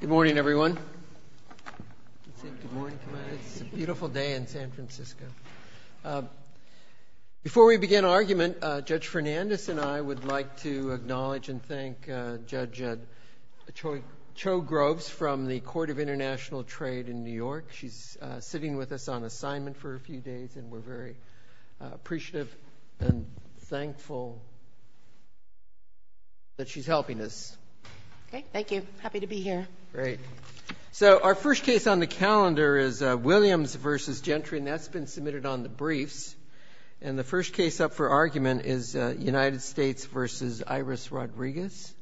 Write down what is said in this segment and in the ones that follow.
Good morning everyone. It's a beautiful day in San Francisco. Before we begin argument, Judge Fernandes and I would like to acknowledge and thank Judge Cho Groves from the Court of International Trade in New York. She's sitting with us on assignment for a few days and we're very appreciative and happy to be here. Great. So our first case on the calendar is Williams v. Gentry and that's been submitted on the briefs. And the first case up for argument is United States v. Iris Rodriguez.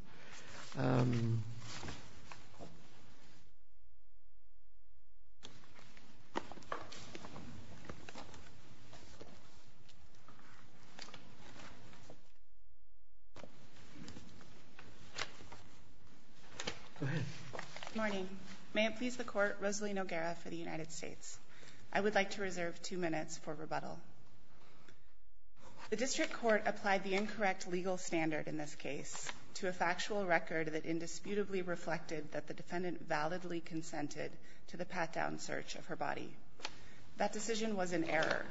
Good morning. May it please the Court, Rosalyn O'Gara for the United States. I would like to reserve two minutes for rebuttal. The district court applied the incorrect legal standard in this case to a factual record that indisputably reflected that the defendant validly consented to the pat-down search of her body. That decision was an error.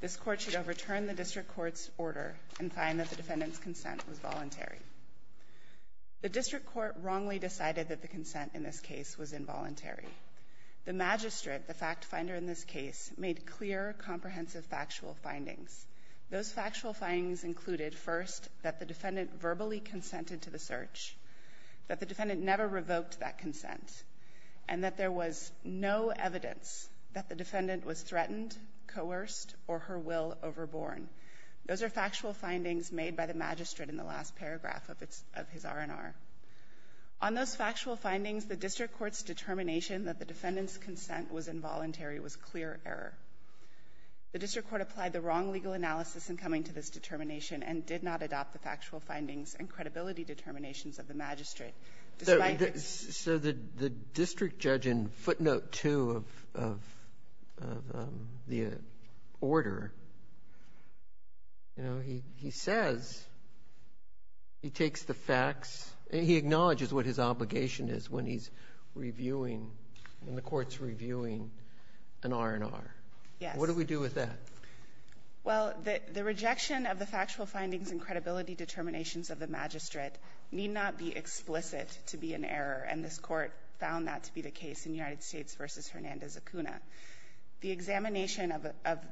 This court should overturn the district court's order and find that the defendant's consent was voluntary. The district court wrongly decided that the consent in this case was involuntary. The magistrate, the fact finder in this case, made clear comprehensive factual findings. Those are factual findings made by the magistrate in the last paragraph of his R&R. On those factual findings, the district court's determination that the defendant's consent was involuntary was clear error. The district court applied the wrong legal analysis in coming to this determination and did not adopt the factual findings and credibility determinations of the magistrate, despite the ---- So the district judge in footnote 2 of the order, you know, he says he takes the facts and he acknowledges what his obligation is when he's reviewing, when the Court's reviewing an R&R. Yes. What do we do with that? Well, the rejection of the factual findings and credibility determinations of the magistrate need not be explicit to be an error, and this Court found that to be the case in United States v. Hernandez-Acuna. The examination of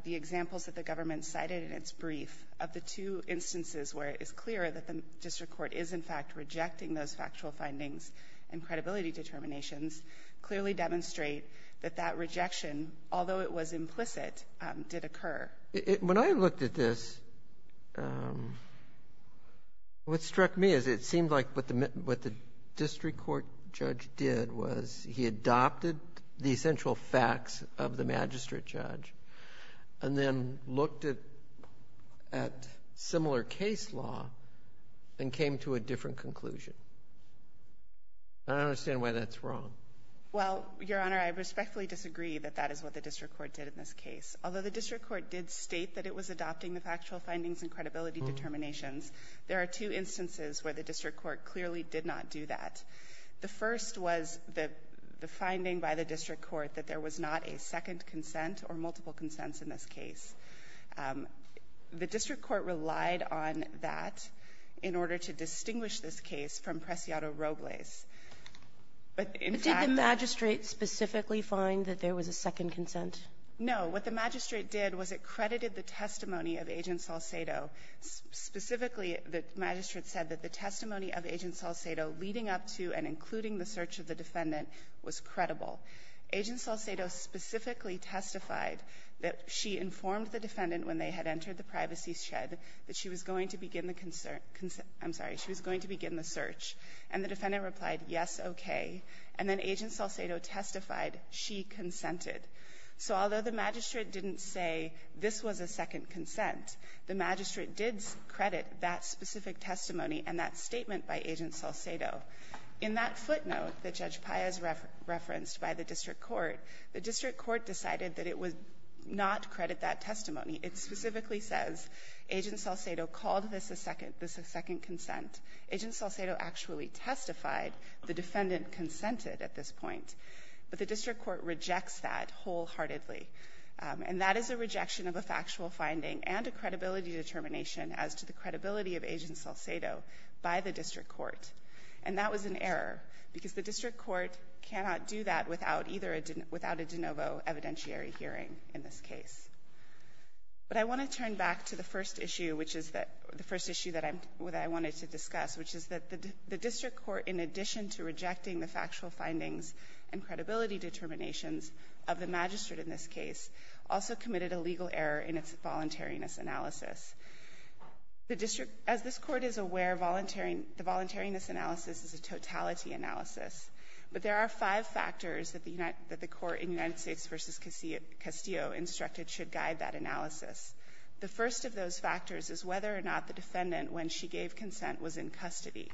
the examples that the government cited in its brief of the two instances where it is clear that the district court is in fact rejecting those factual findings and credibility determinations clearly demonstrate that that rejection, although it was implicit, did occur. When I looked at this, what struck me is it seemed like what the district court judge did was he adopted the essential facts of the magistrate judge and then looked at similar case law and came to a different conclusion. I don't understand why that's wrong. Well, Your Honor, I respectfully disagree that that is what the district court did in this case. Although the district court did state that it was adopting the factual findings and credibility determinations, there are two instances where the district court clearly did not do that. The first was the finding by the district court that there was not a second consent or multiple consents in this case. The district court relied on that in order to distinguish this case from Preciado-Roglez. But in fact the magistrate specifically find that there was a second consent. No. What the magistrate did was it credited the testimony of Agent Salcedo. Specifically, the magistrate said that the testimony of Agent Salcedo leading up to and including the search of the defendant was credible. Agent Salcedo specifically testified that she informed the defendant when they had entered the privacy shed that she was going to begin the concern — I'm sorry, she was going to begin the search. And the defendant replied, yes, okay. And then Agent Salcedo testified she consented. So although the magistrate didn't say this was a second consent, the magistrate did credit that specific testimony and that statement by Agent Salcedo. In that footnote that Judge Payaz referenced by the district court, the district court decided that it would not credit that testimony. It specifically says Agent Salcedo called this a second — this a second consent. Agent Salcedo actually testified. The defendant consented at this point. But the district court rejects that wholeheartedly. And that is a rejection of a factual finding and a credibility determination as to the credibility of Agent Salcedo by the district court. And that was an error, because the district court cannot do that without either a — without a de novo evidentiary hearing in this case. But I want to turn back to the first issue, which is that — the first issue that I'm — that I wanted to discuss, which is that the district court, in addition to rejecting the factual findings and credibility determinations of the magistrate in this case, also committed a legal error in its voluntariness analysis. The district — as this Court is aware, voluntary — the voluntariness analysis is a totality analysis. But there are five factors that the United — that the Court in United States v. Castillo instructed should guide that analysis. The first of those factors is whether or not the defendant, when she gave consent, was in custody.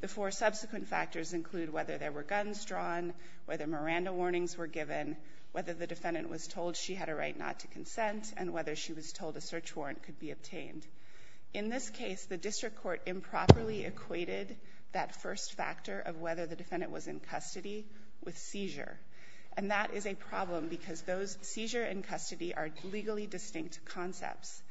The four subsequent factors include whether there were guns drawn, whether Miranda warnings were given, whether the defendant was told she had a right not to consent, and whether she was told a search warrant could be obtained. In this case, the district court improperly equated that first factor of whether the defendant was in custody with seizure. And that is a problem, because those — seizure and custody are legally distinct concepts.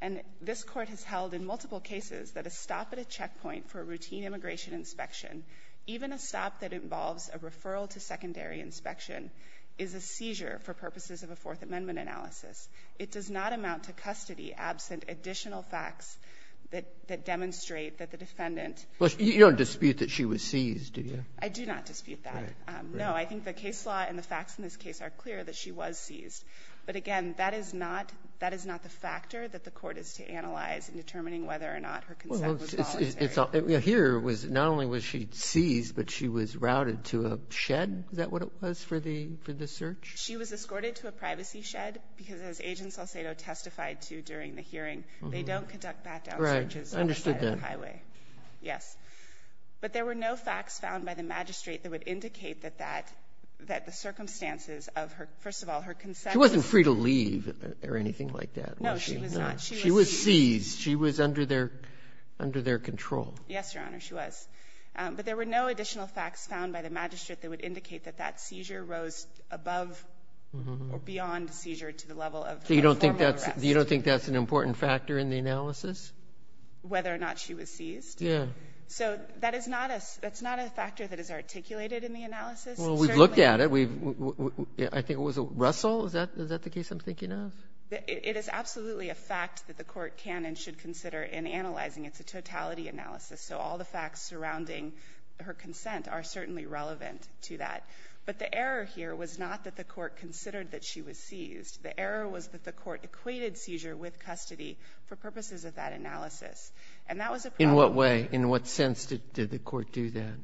And this Court has held in multiple cases that a stop at a checkpoint for a routine immigration inspection, even a stop that involves a referral to secondary inspection, is a seizure for purposes of a Fourth Amendment analysis. It does not amount to custody absent additional facts that demonstrate that the defendant — Robertson, you don't dispute that she was seized, do you? I do not dispute that. Right. Right. No, I think the case law and the facts in this case are clear that she was seized. But again, that is not — that is not the factor that the Court is to analyze in determining whether or not her consent was voluntary. Well, here was — not only was she seized, but she was routed to a shed? Is that what it was for the — for the search? She was escorted to a privacy shed, because as Agent Salcedo testified to during the hearing, they don't conduct back-down searches on the side of the highway. Yes. But there were no facts found by the magistrate that would indicate that that — that the circumstances of her — first of all, her consent was — She wasn't free to leave or anything like that, was she? No, she was not. She was seized. She was under their — under their control. Yes, Your Honor, she was. But there were no additional facts found by the magistrate that would indicate that that seizure rose above or beyond a seizure to the level of a formal arrest. So you don't think that's — you don't think that's an important factor in the analysis? Whether or not she was seized? Yeah. So that is not a — that's not a factor that is articulated in the analysis. Well, we've looked at it. We've — I think it was Russell. Is that — is that the case I'm thinking of? It is absolutely a fact that the Court can and should consider in analyzing. It's a totality analysis. So all the facts surrounding her consent are certainly relevant to that. But the error here was not that the Court considered that she was seized. The error was that the Court equated seizure with custody for purposes of that analysis. And that was a problem. In what way? In what sense did the Court do that?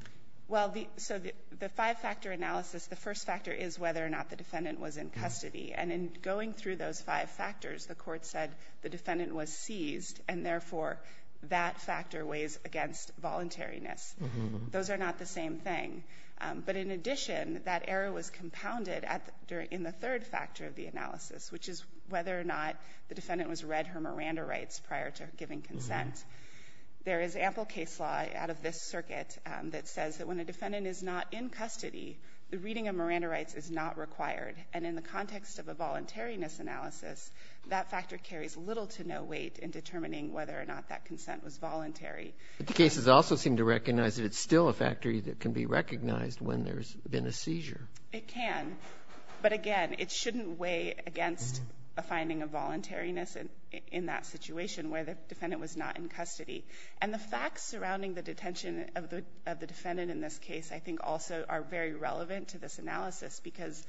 Well, the — so the five-factor analysis, the first factor is whether or not the defendant was in custody. And in going through those five factors, the Court said the defendant was seized, and therefore that factor weighs against voluntariness. Those are not the same thing. But in addition, that error was compounded at the — in the third factor of the analysis, which is whether or not the defendant was read her Miranda rights prior to giving consent. There is ample case law out of this circuit that says that when a defendant is not in custody, the reading of Miranda rights is not required. And in the context of a voluntariness analysis, that factor carries little to no weight in determining whether or not that consent was voluntary. But the cases also seem to recognize that it's still a factor that can be recognized when there's been a seizure. It can. But again, it shouldn't weigh against a finding of voluntariness in that situation where the defendant was not in custody. And the facts surrounding the detention of the defendant in this case I think also are very relevant to this analysis, because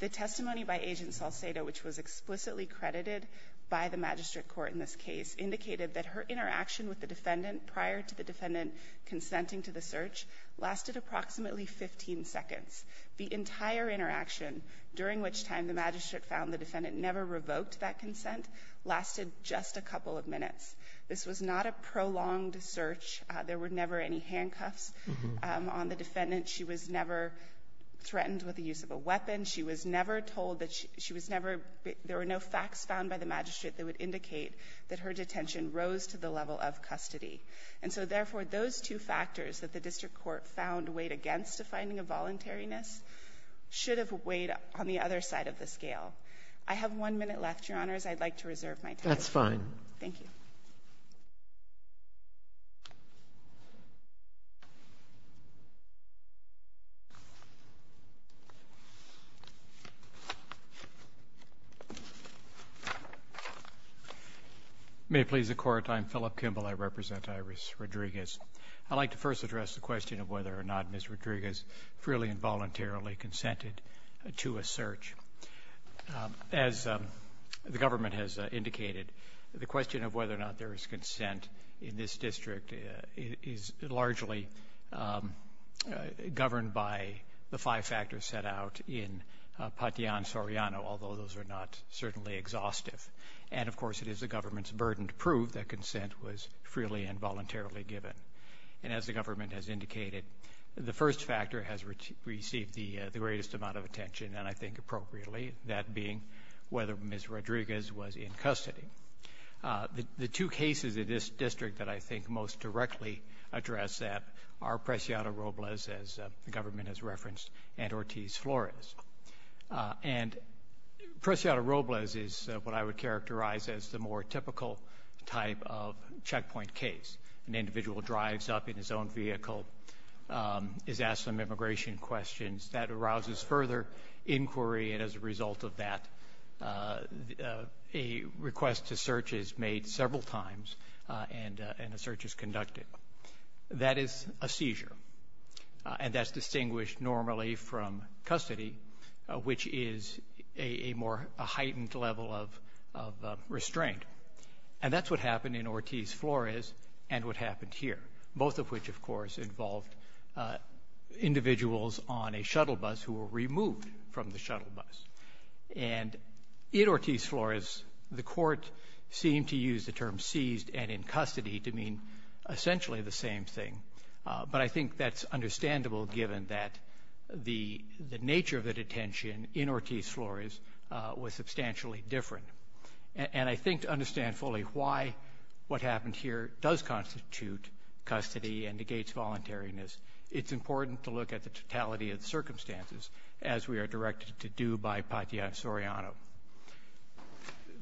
the testimony by Agent Salcedo, which was explicitly credited by the magistrate court in this case, indicated that her interaction with the defendant prior to the defendant consenting to the search lasted approximately 15 seconds. The entire interaction, during which time the magistrate found the defendant never revoked that consent, lasted just a couple of minutes. This was not a prolonged search. There were never any handcuffs on the defendant. She was never threatened with the use of a weapon. She was never told that she was never – there were no facts found by the magistrate that would indicate that her detention rose to the level of custody. And so therefore, those two factors that the district court found weighed against a finding of voluntariness should have weighed on the other side of the scale. I have one minute left, Your Honors. I'd like to reserve my time. That's fine. Thank you. May it please the Court, I'm Philip Kimball. I represent Iris Rodriguez. I'd like to first address the question of whether or not Ms. Rodriguez freely and voluntarily consented to a search. As the government has indicated, the question of whether or not there is consent in this district is largely governed by the five factors set out in Patian-Soriano, although those are not certainly exhaustive. And of course, it is the government's burden to prove that consent was freely and voluntarily given. And as the government has indicated, the first factor has received the greatest amount of attention, and I think appropriately, that being whether Ms. Rodriguez was in custody. The two cases in this district that I think most directly address that are Preciado-Robles, as the government has referenced, and Ortiz-Flores. And Preciado-Robles is what I would characterize as the more typical type of checkpoint case, an individual drives up in his own vehicle, is asked some immigration questions. That arouses further inquiry, and as a result of that, a request to search is made several times, and a search is conducted. That is a seizure, and that's distinguished normally from custody, which is a more heightened level of restraint. And that's what happened in Ortiz-Flores and what happened here, both of which of course involved individuals on a shuttle bus who were removed from the shuttle bus. And in Ortiz-Flores, the court seemed to use the term seized and in custody to mean essentially the same thing, but I think that's understandable given that the nature of the detention in Ortiz-Flores was substantially different. And I think to understand fully why what happened here does constitute custody and negates voluntariness, it's important to look at the totality of the circumstances, as we are directed to do by Patia Soriano.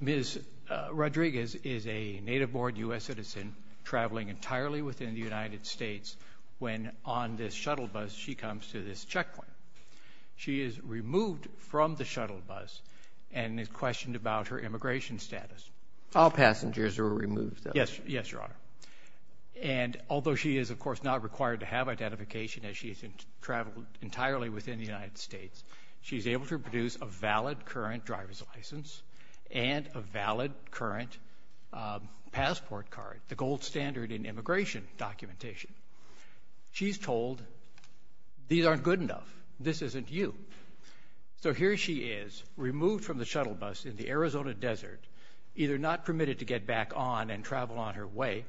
Ms. Rodriguez is a native-born U.S. citizen traveling entirely within the United States when on this shuttle bus, she comes to this checkpoint. She is removed from the shuttle bus and is questioned about her immigration status. All passengers are removed, though. Yes, Your Honor. And although she is, of course, not required to have identification as she's traveled entirely within the United States, she's able to produce a valid current driver's license and a valid current passport card, the gold standard in immigration documentation. She's told, these aren't good enough. This isn't you. So here she is, removed from the shuttle bus in the Arizona desert, either not permitted to get back on and travel on her way,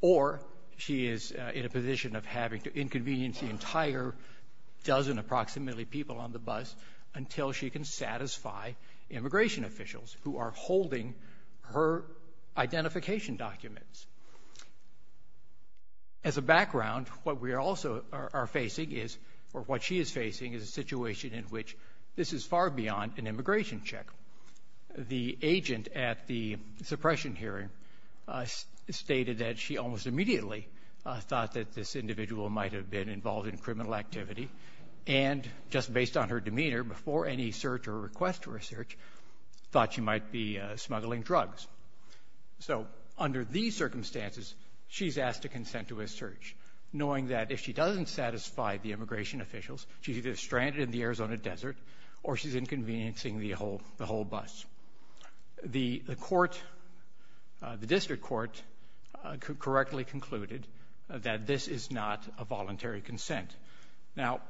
or she is in a position of having to inconvenience the entire dozen approximately people on the bus until she can satisfy immigration officials who are holding her identification documents. As a background, what we also are facing is, or what she is facing, is a situation in which this is far beyond an immigration check. The agent at the suppression hearing stated that she almost immediately thought that this individual might have been involved in criminal activity and, just based on her demeanor, before any search or request for a search, thought she might be smuggling drugs. So under these circumstances, she's asked to consent to a search, knowing that if she doesn't satisfy the immigration officials, she's either stranded in the Arizona desert or she's inconveniencing the whole bus. The court, the district court, correctly concluded that this is not a voluntary consent. Now,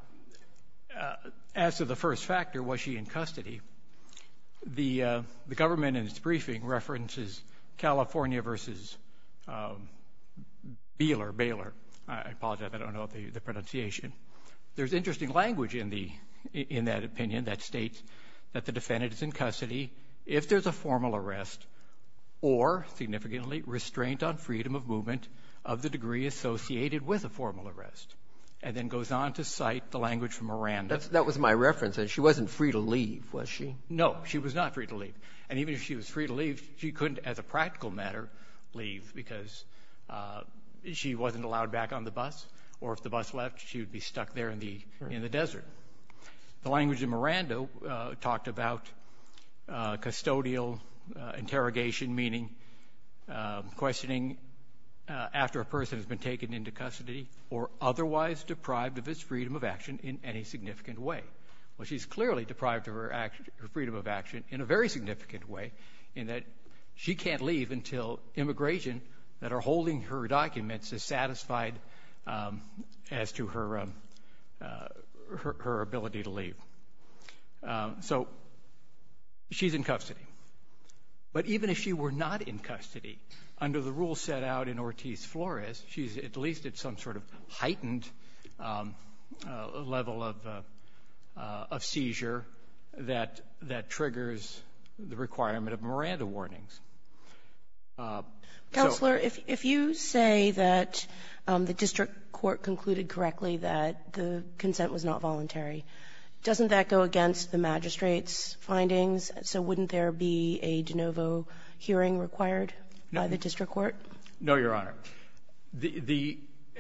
as to the first factor, was she in custody, the government, in its briefing, references California versus Baylor, I apologize, I don't know the pronunciation. There's interesting language in that opinion that states that the defendant is in custody if there's a formal arrest or, significantly, restraint on freedom of movement of the degree associated with a formal arrest, and then goes on to cite the language from Miranda. That was my reference. She wasn't free to leave, was she? No, she was not free to leave. And even if she was free to leave, she couldn't, as a practical matter, leave because she wasn't allowed back on the bus, or if the bus left, she would be stuck there in the desert. The language in Miranda talked about custodial interrogation, meaning questioning after a person has been taken into custody or otherwise deprived of his freedom of action in any significant way. Well, she's clearly deprived of her freedom of action in a very significant way, in that she can't leave until immigration that are holding her documents is satisfied as to her So she's in custody. But even if she were not in custody, under the rule set out in Ortiz-Flores, she's at least at some sort of heightened level of seizure that triggers the requirement of Miranda warnings. So the court concluded correctly that the consent was not voluntary. Doesn't that go against the magistrate's findings? So wouldn't there be a de novo hearing required by the district court? No, Your Honor.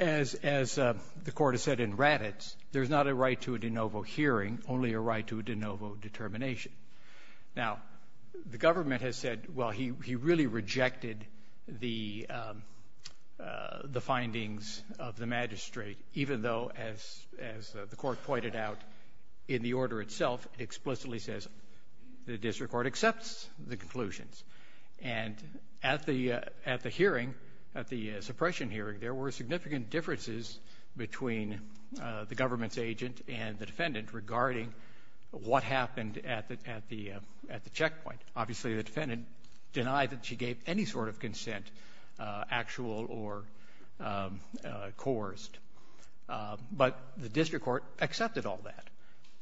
As the court has said in Raddatz, there's not a right to a de novo hearing, only a right to a de novo determination. Now, the government has said, well, he really rejected the findings of the magistrate, even though, as the court pointed out in the order itself, it explicitly says the district court accepts the conclusions. And at the hearing, at the suppression hearing, there were significant differences between the government's agent and the defendant regarding what happened at the checkpoint. Obviously, the defendant denied that she gave any sort of consent, actual or coerced. But the district court accepted all that.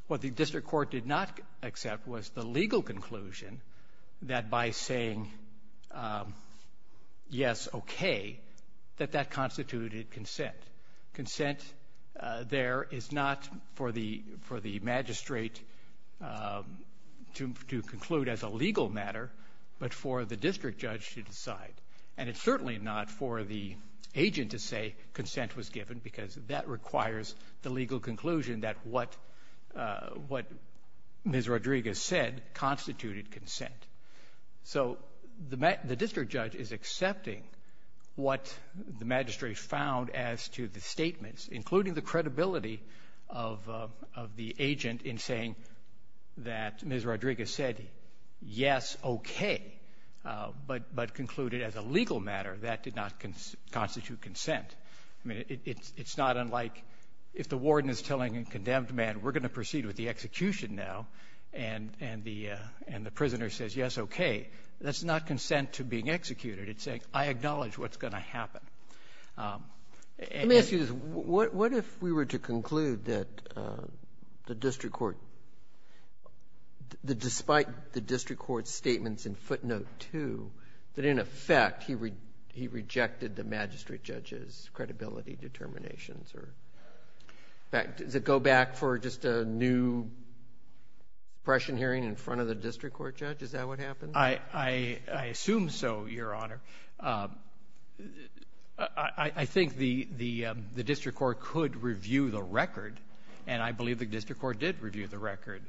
What the district court did not accept was the legal conclusion that by saying yes, okay, that that constituted consent. Consent there is not for the magistrate to conclude as a legal matter, but for the district judge to decide. And it's certainly not for the agent to say consent was given, because that requires the legal conclusion that what Ms. Rodriguez said constituted consent. So the district judge is accepting what the magistrate found as to the statements, including the credibility of the agent in saying that Ms. Rodriguez said yes, okay, but concluded as a legal matter that did not constitute consent. I mean, it's not unlike if the warden is telling a condemned man, we're going to proceed with That's not consent to being executed. It's saying, I acknowledge what's going to happen. Let me ask you this. What if we were to conclude that the district court, despite the district court's statements in footnote 2, that in effect, he rejected the magistrate judge's credibility determinations? In fact, does it go back for just a new suppression hearing in front of the district court judge? Is that what happens? I assume so, Your Honor. I think the district court could review the record, and I believe the district court did review the record,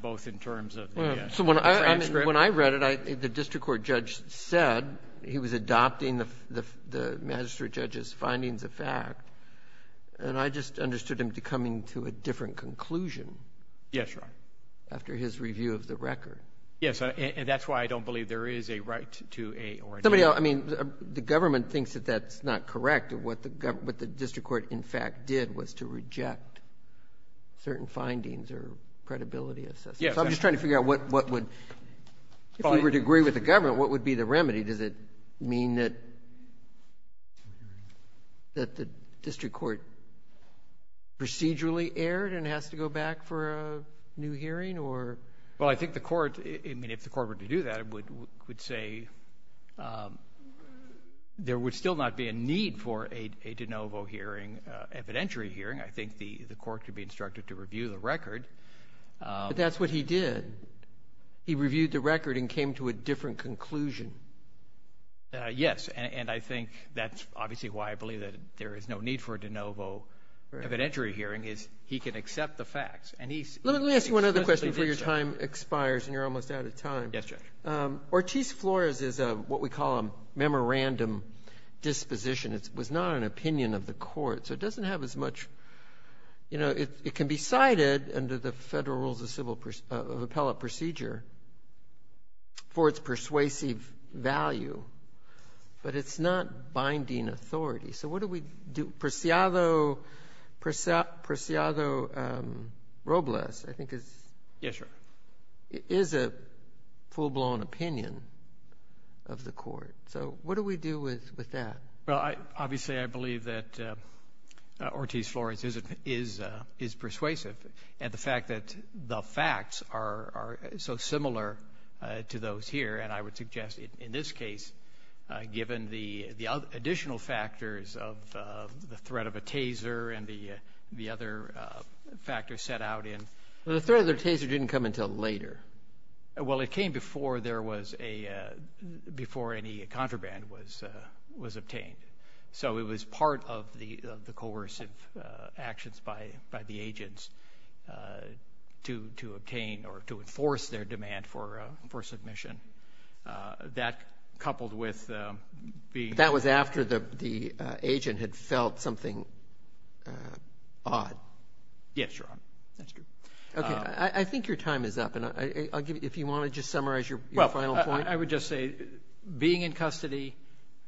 both in terms of the transcript. When I read it, the district court judge said he was adopting the magistrate judge's findings of fact, and I just understood him coming to a different conclusion after his review of the record. Yes. And that's why I don't believe there is a right to a, or an Somebody else, I mean, the government thinks that that's not correct, and what the district court, in fact, did was to reject certain findings or credibility assessments. Yes. So I'm just trying to figure out what would, if we were to agree with the government, what would be the remedy? Does it mean that the district court procedurally erred and has to go back for a new hearing, or Well, I think the court, I mean, if the court were to do that, it would say there would still not be a need for a de novo hearing, evidentiary hearing. I think the court could be instructed to review the record. But that's what he did. He reviewed the record and came to a different conclusion. Yes. And I think that's obviously why I believe that there is no need for a de novo evidentiary hearing, is he can accept the facts. Let me ask you one other question before your time expires and you're almost out of time. Yes, Judge. Ortiz-Flores is what we call a memorandum disposition. It was not an opinion of the court. So it doesn't have as much, you know, it can be cited under the Federal Rules of Appellate procedure for its persuasive value, but it's not binding authority. So what do we do? Preciado Robles, I think, is a full-blown opinion of the court. So what do we do with that? Well, obviously, I believe that Ortiz-Flores is persuasive. And the fact that the facts are so similar to those here, and I would suggest in this factors of the threat of a taser and the other factors set out in. The threat of the taser didn't come until later. Well, it came before there was a, before any contraband was obtained. So it was part of the coercive actions by the agents to obtain or to enforce their demand for submission. That coupled with being. That was after the agent had felt something odd. Yes, Your Honor. That's true. Okay. I think your time is up. And I'll give you, if you want to just summarize your final point. Well, I would just say, being in custody,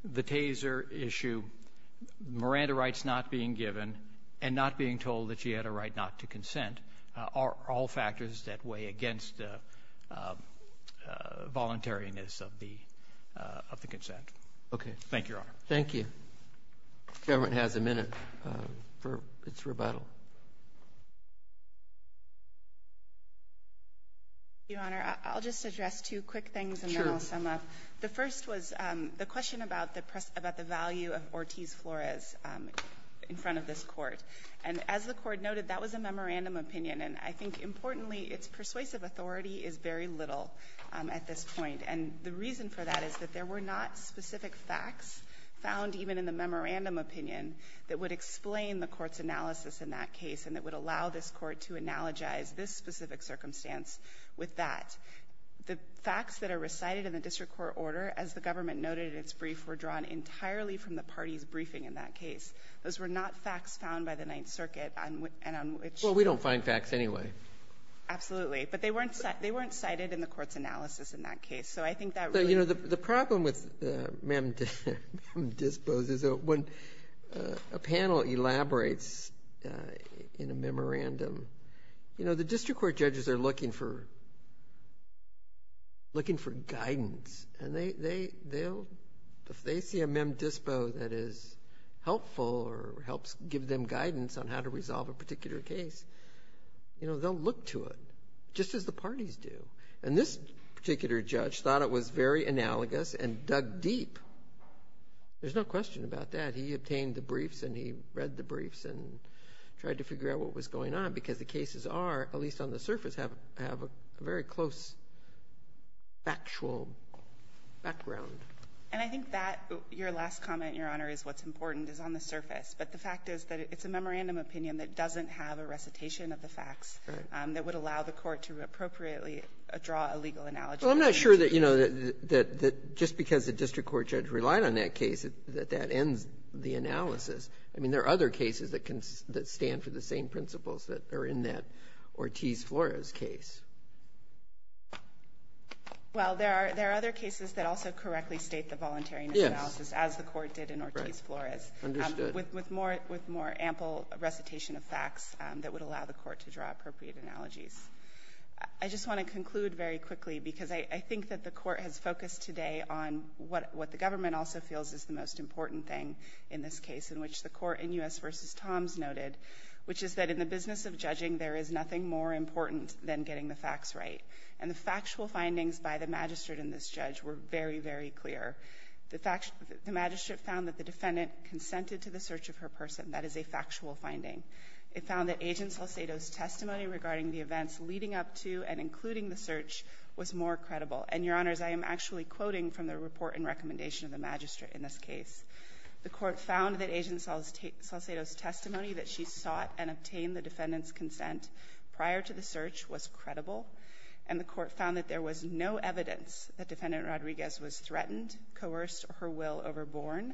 the taser issue, Miranda rights not being given and not being told that she had a right not to consent are all factors that weigh against voluntariness of the consent. Okay. Thank you, Your Honor. Thank you. The government has a minute for its rebuttal. Your Honor, I'll just address two quick things and then I'll sum up. The first was the question about the value of Ortiz-Flores in front of this court. And as the court noted, that was a memorandum opinion. And I think importantly, its persuasive authority is very little at this point. And the reason for that is that there were not specific facts found even in the memorandum opinion that would explain the court's analysis in that case and that would allow this court to analogize this specific circumstance with that. The facts that are recited in the district court order, as the government noted in its brief, were drawn entirely from the party's briefing in that case. Those were not facts found by the Ninth Circuit and on which — Well, we don't find facts anyway. Absolutely. But they weren't cited in the court's analysis in that case. So I think that really — But, you know, the problem with mem dispos is that when a panel elaborates in a memorandum, you know, the district court judges are looking for guidance. And if they see a mem dispo that is helpful or helps give them guidance on how to resolve a particular case, you know, they'll look to it, just as the parties do. And this particular judge thought it was very analogous and dug deep. There's no question about that. He obtained the briefs and he read the briefs and tried to figure out what was going on because the cases are, at least on the surface, have a very close factual background. And I think that — your last comment, Your Honor, is what's important is on the surface. But the fact is that it's a memorandum opinion that doesn't have a recitation of the facts that would allow the court to appropriately draw a legal analogy. Well, I'm not sure that, you know, that just because the district court judge relied on that case, that that ends the analysis. I mean, there are other cases that stand for the same principles that are in that Ortiz-Flores case. Well, there are other cases that also correctly state the voluntariness analysis as the court did in Ortiz-Flores, with more ample recitation of facts that would allow the court to draw appropriate analogies. I just want to conclude very quickly because I think that the court has focused today on what the government also feels is the most important thing in this case, in which the court in U.S. v. Toms noted, which is that in the business of judging, there is nothing more important than getting the facts right. And the factual findings by the magistrate in this judge were very, very clear. The magistrate found that the defendant consented to the search of her person. That is a factual finding. It found that Agent Salcedo's testimony regarding the events leading up to and including the search was more credible. And, Your Honors, I am actually quoting from the report and recommendation of the magistrate in this case. The court found that Agent Salcedo's testimony that she sought and obtained the defendant's consent prior to the search was credible, and the court found that there was no evidence that Defendant Rodriguez was threatened, coerced her will overborn.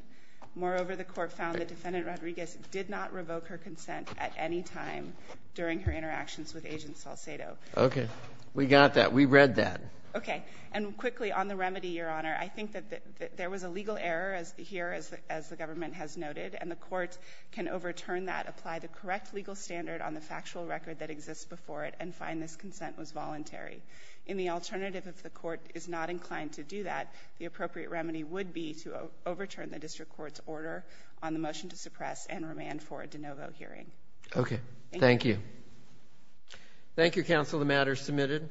Moreover, the court found that Defendant Rodriguez did not revoke her consent at any time during her interactions with Agent Salcedo. Okay. We got that. We read that. Okay. And quickly, on the remedy, Your Honor, I think that there was a legal error here, as the government has noted, and the court can overturn that, apply the correct legal standard on the factual record that exists before it, and find this consent was voluntary. In the alternative, if the court is not inclined to do that, the appropriate remedy would be to overturn the district court's order on the motion to suppress and remand for a de novo hearing. Okay. Thank you. The matter is submitted.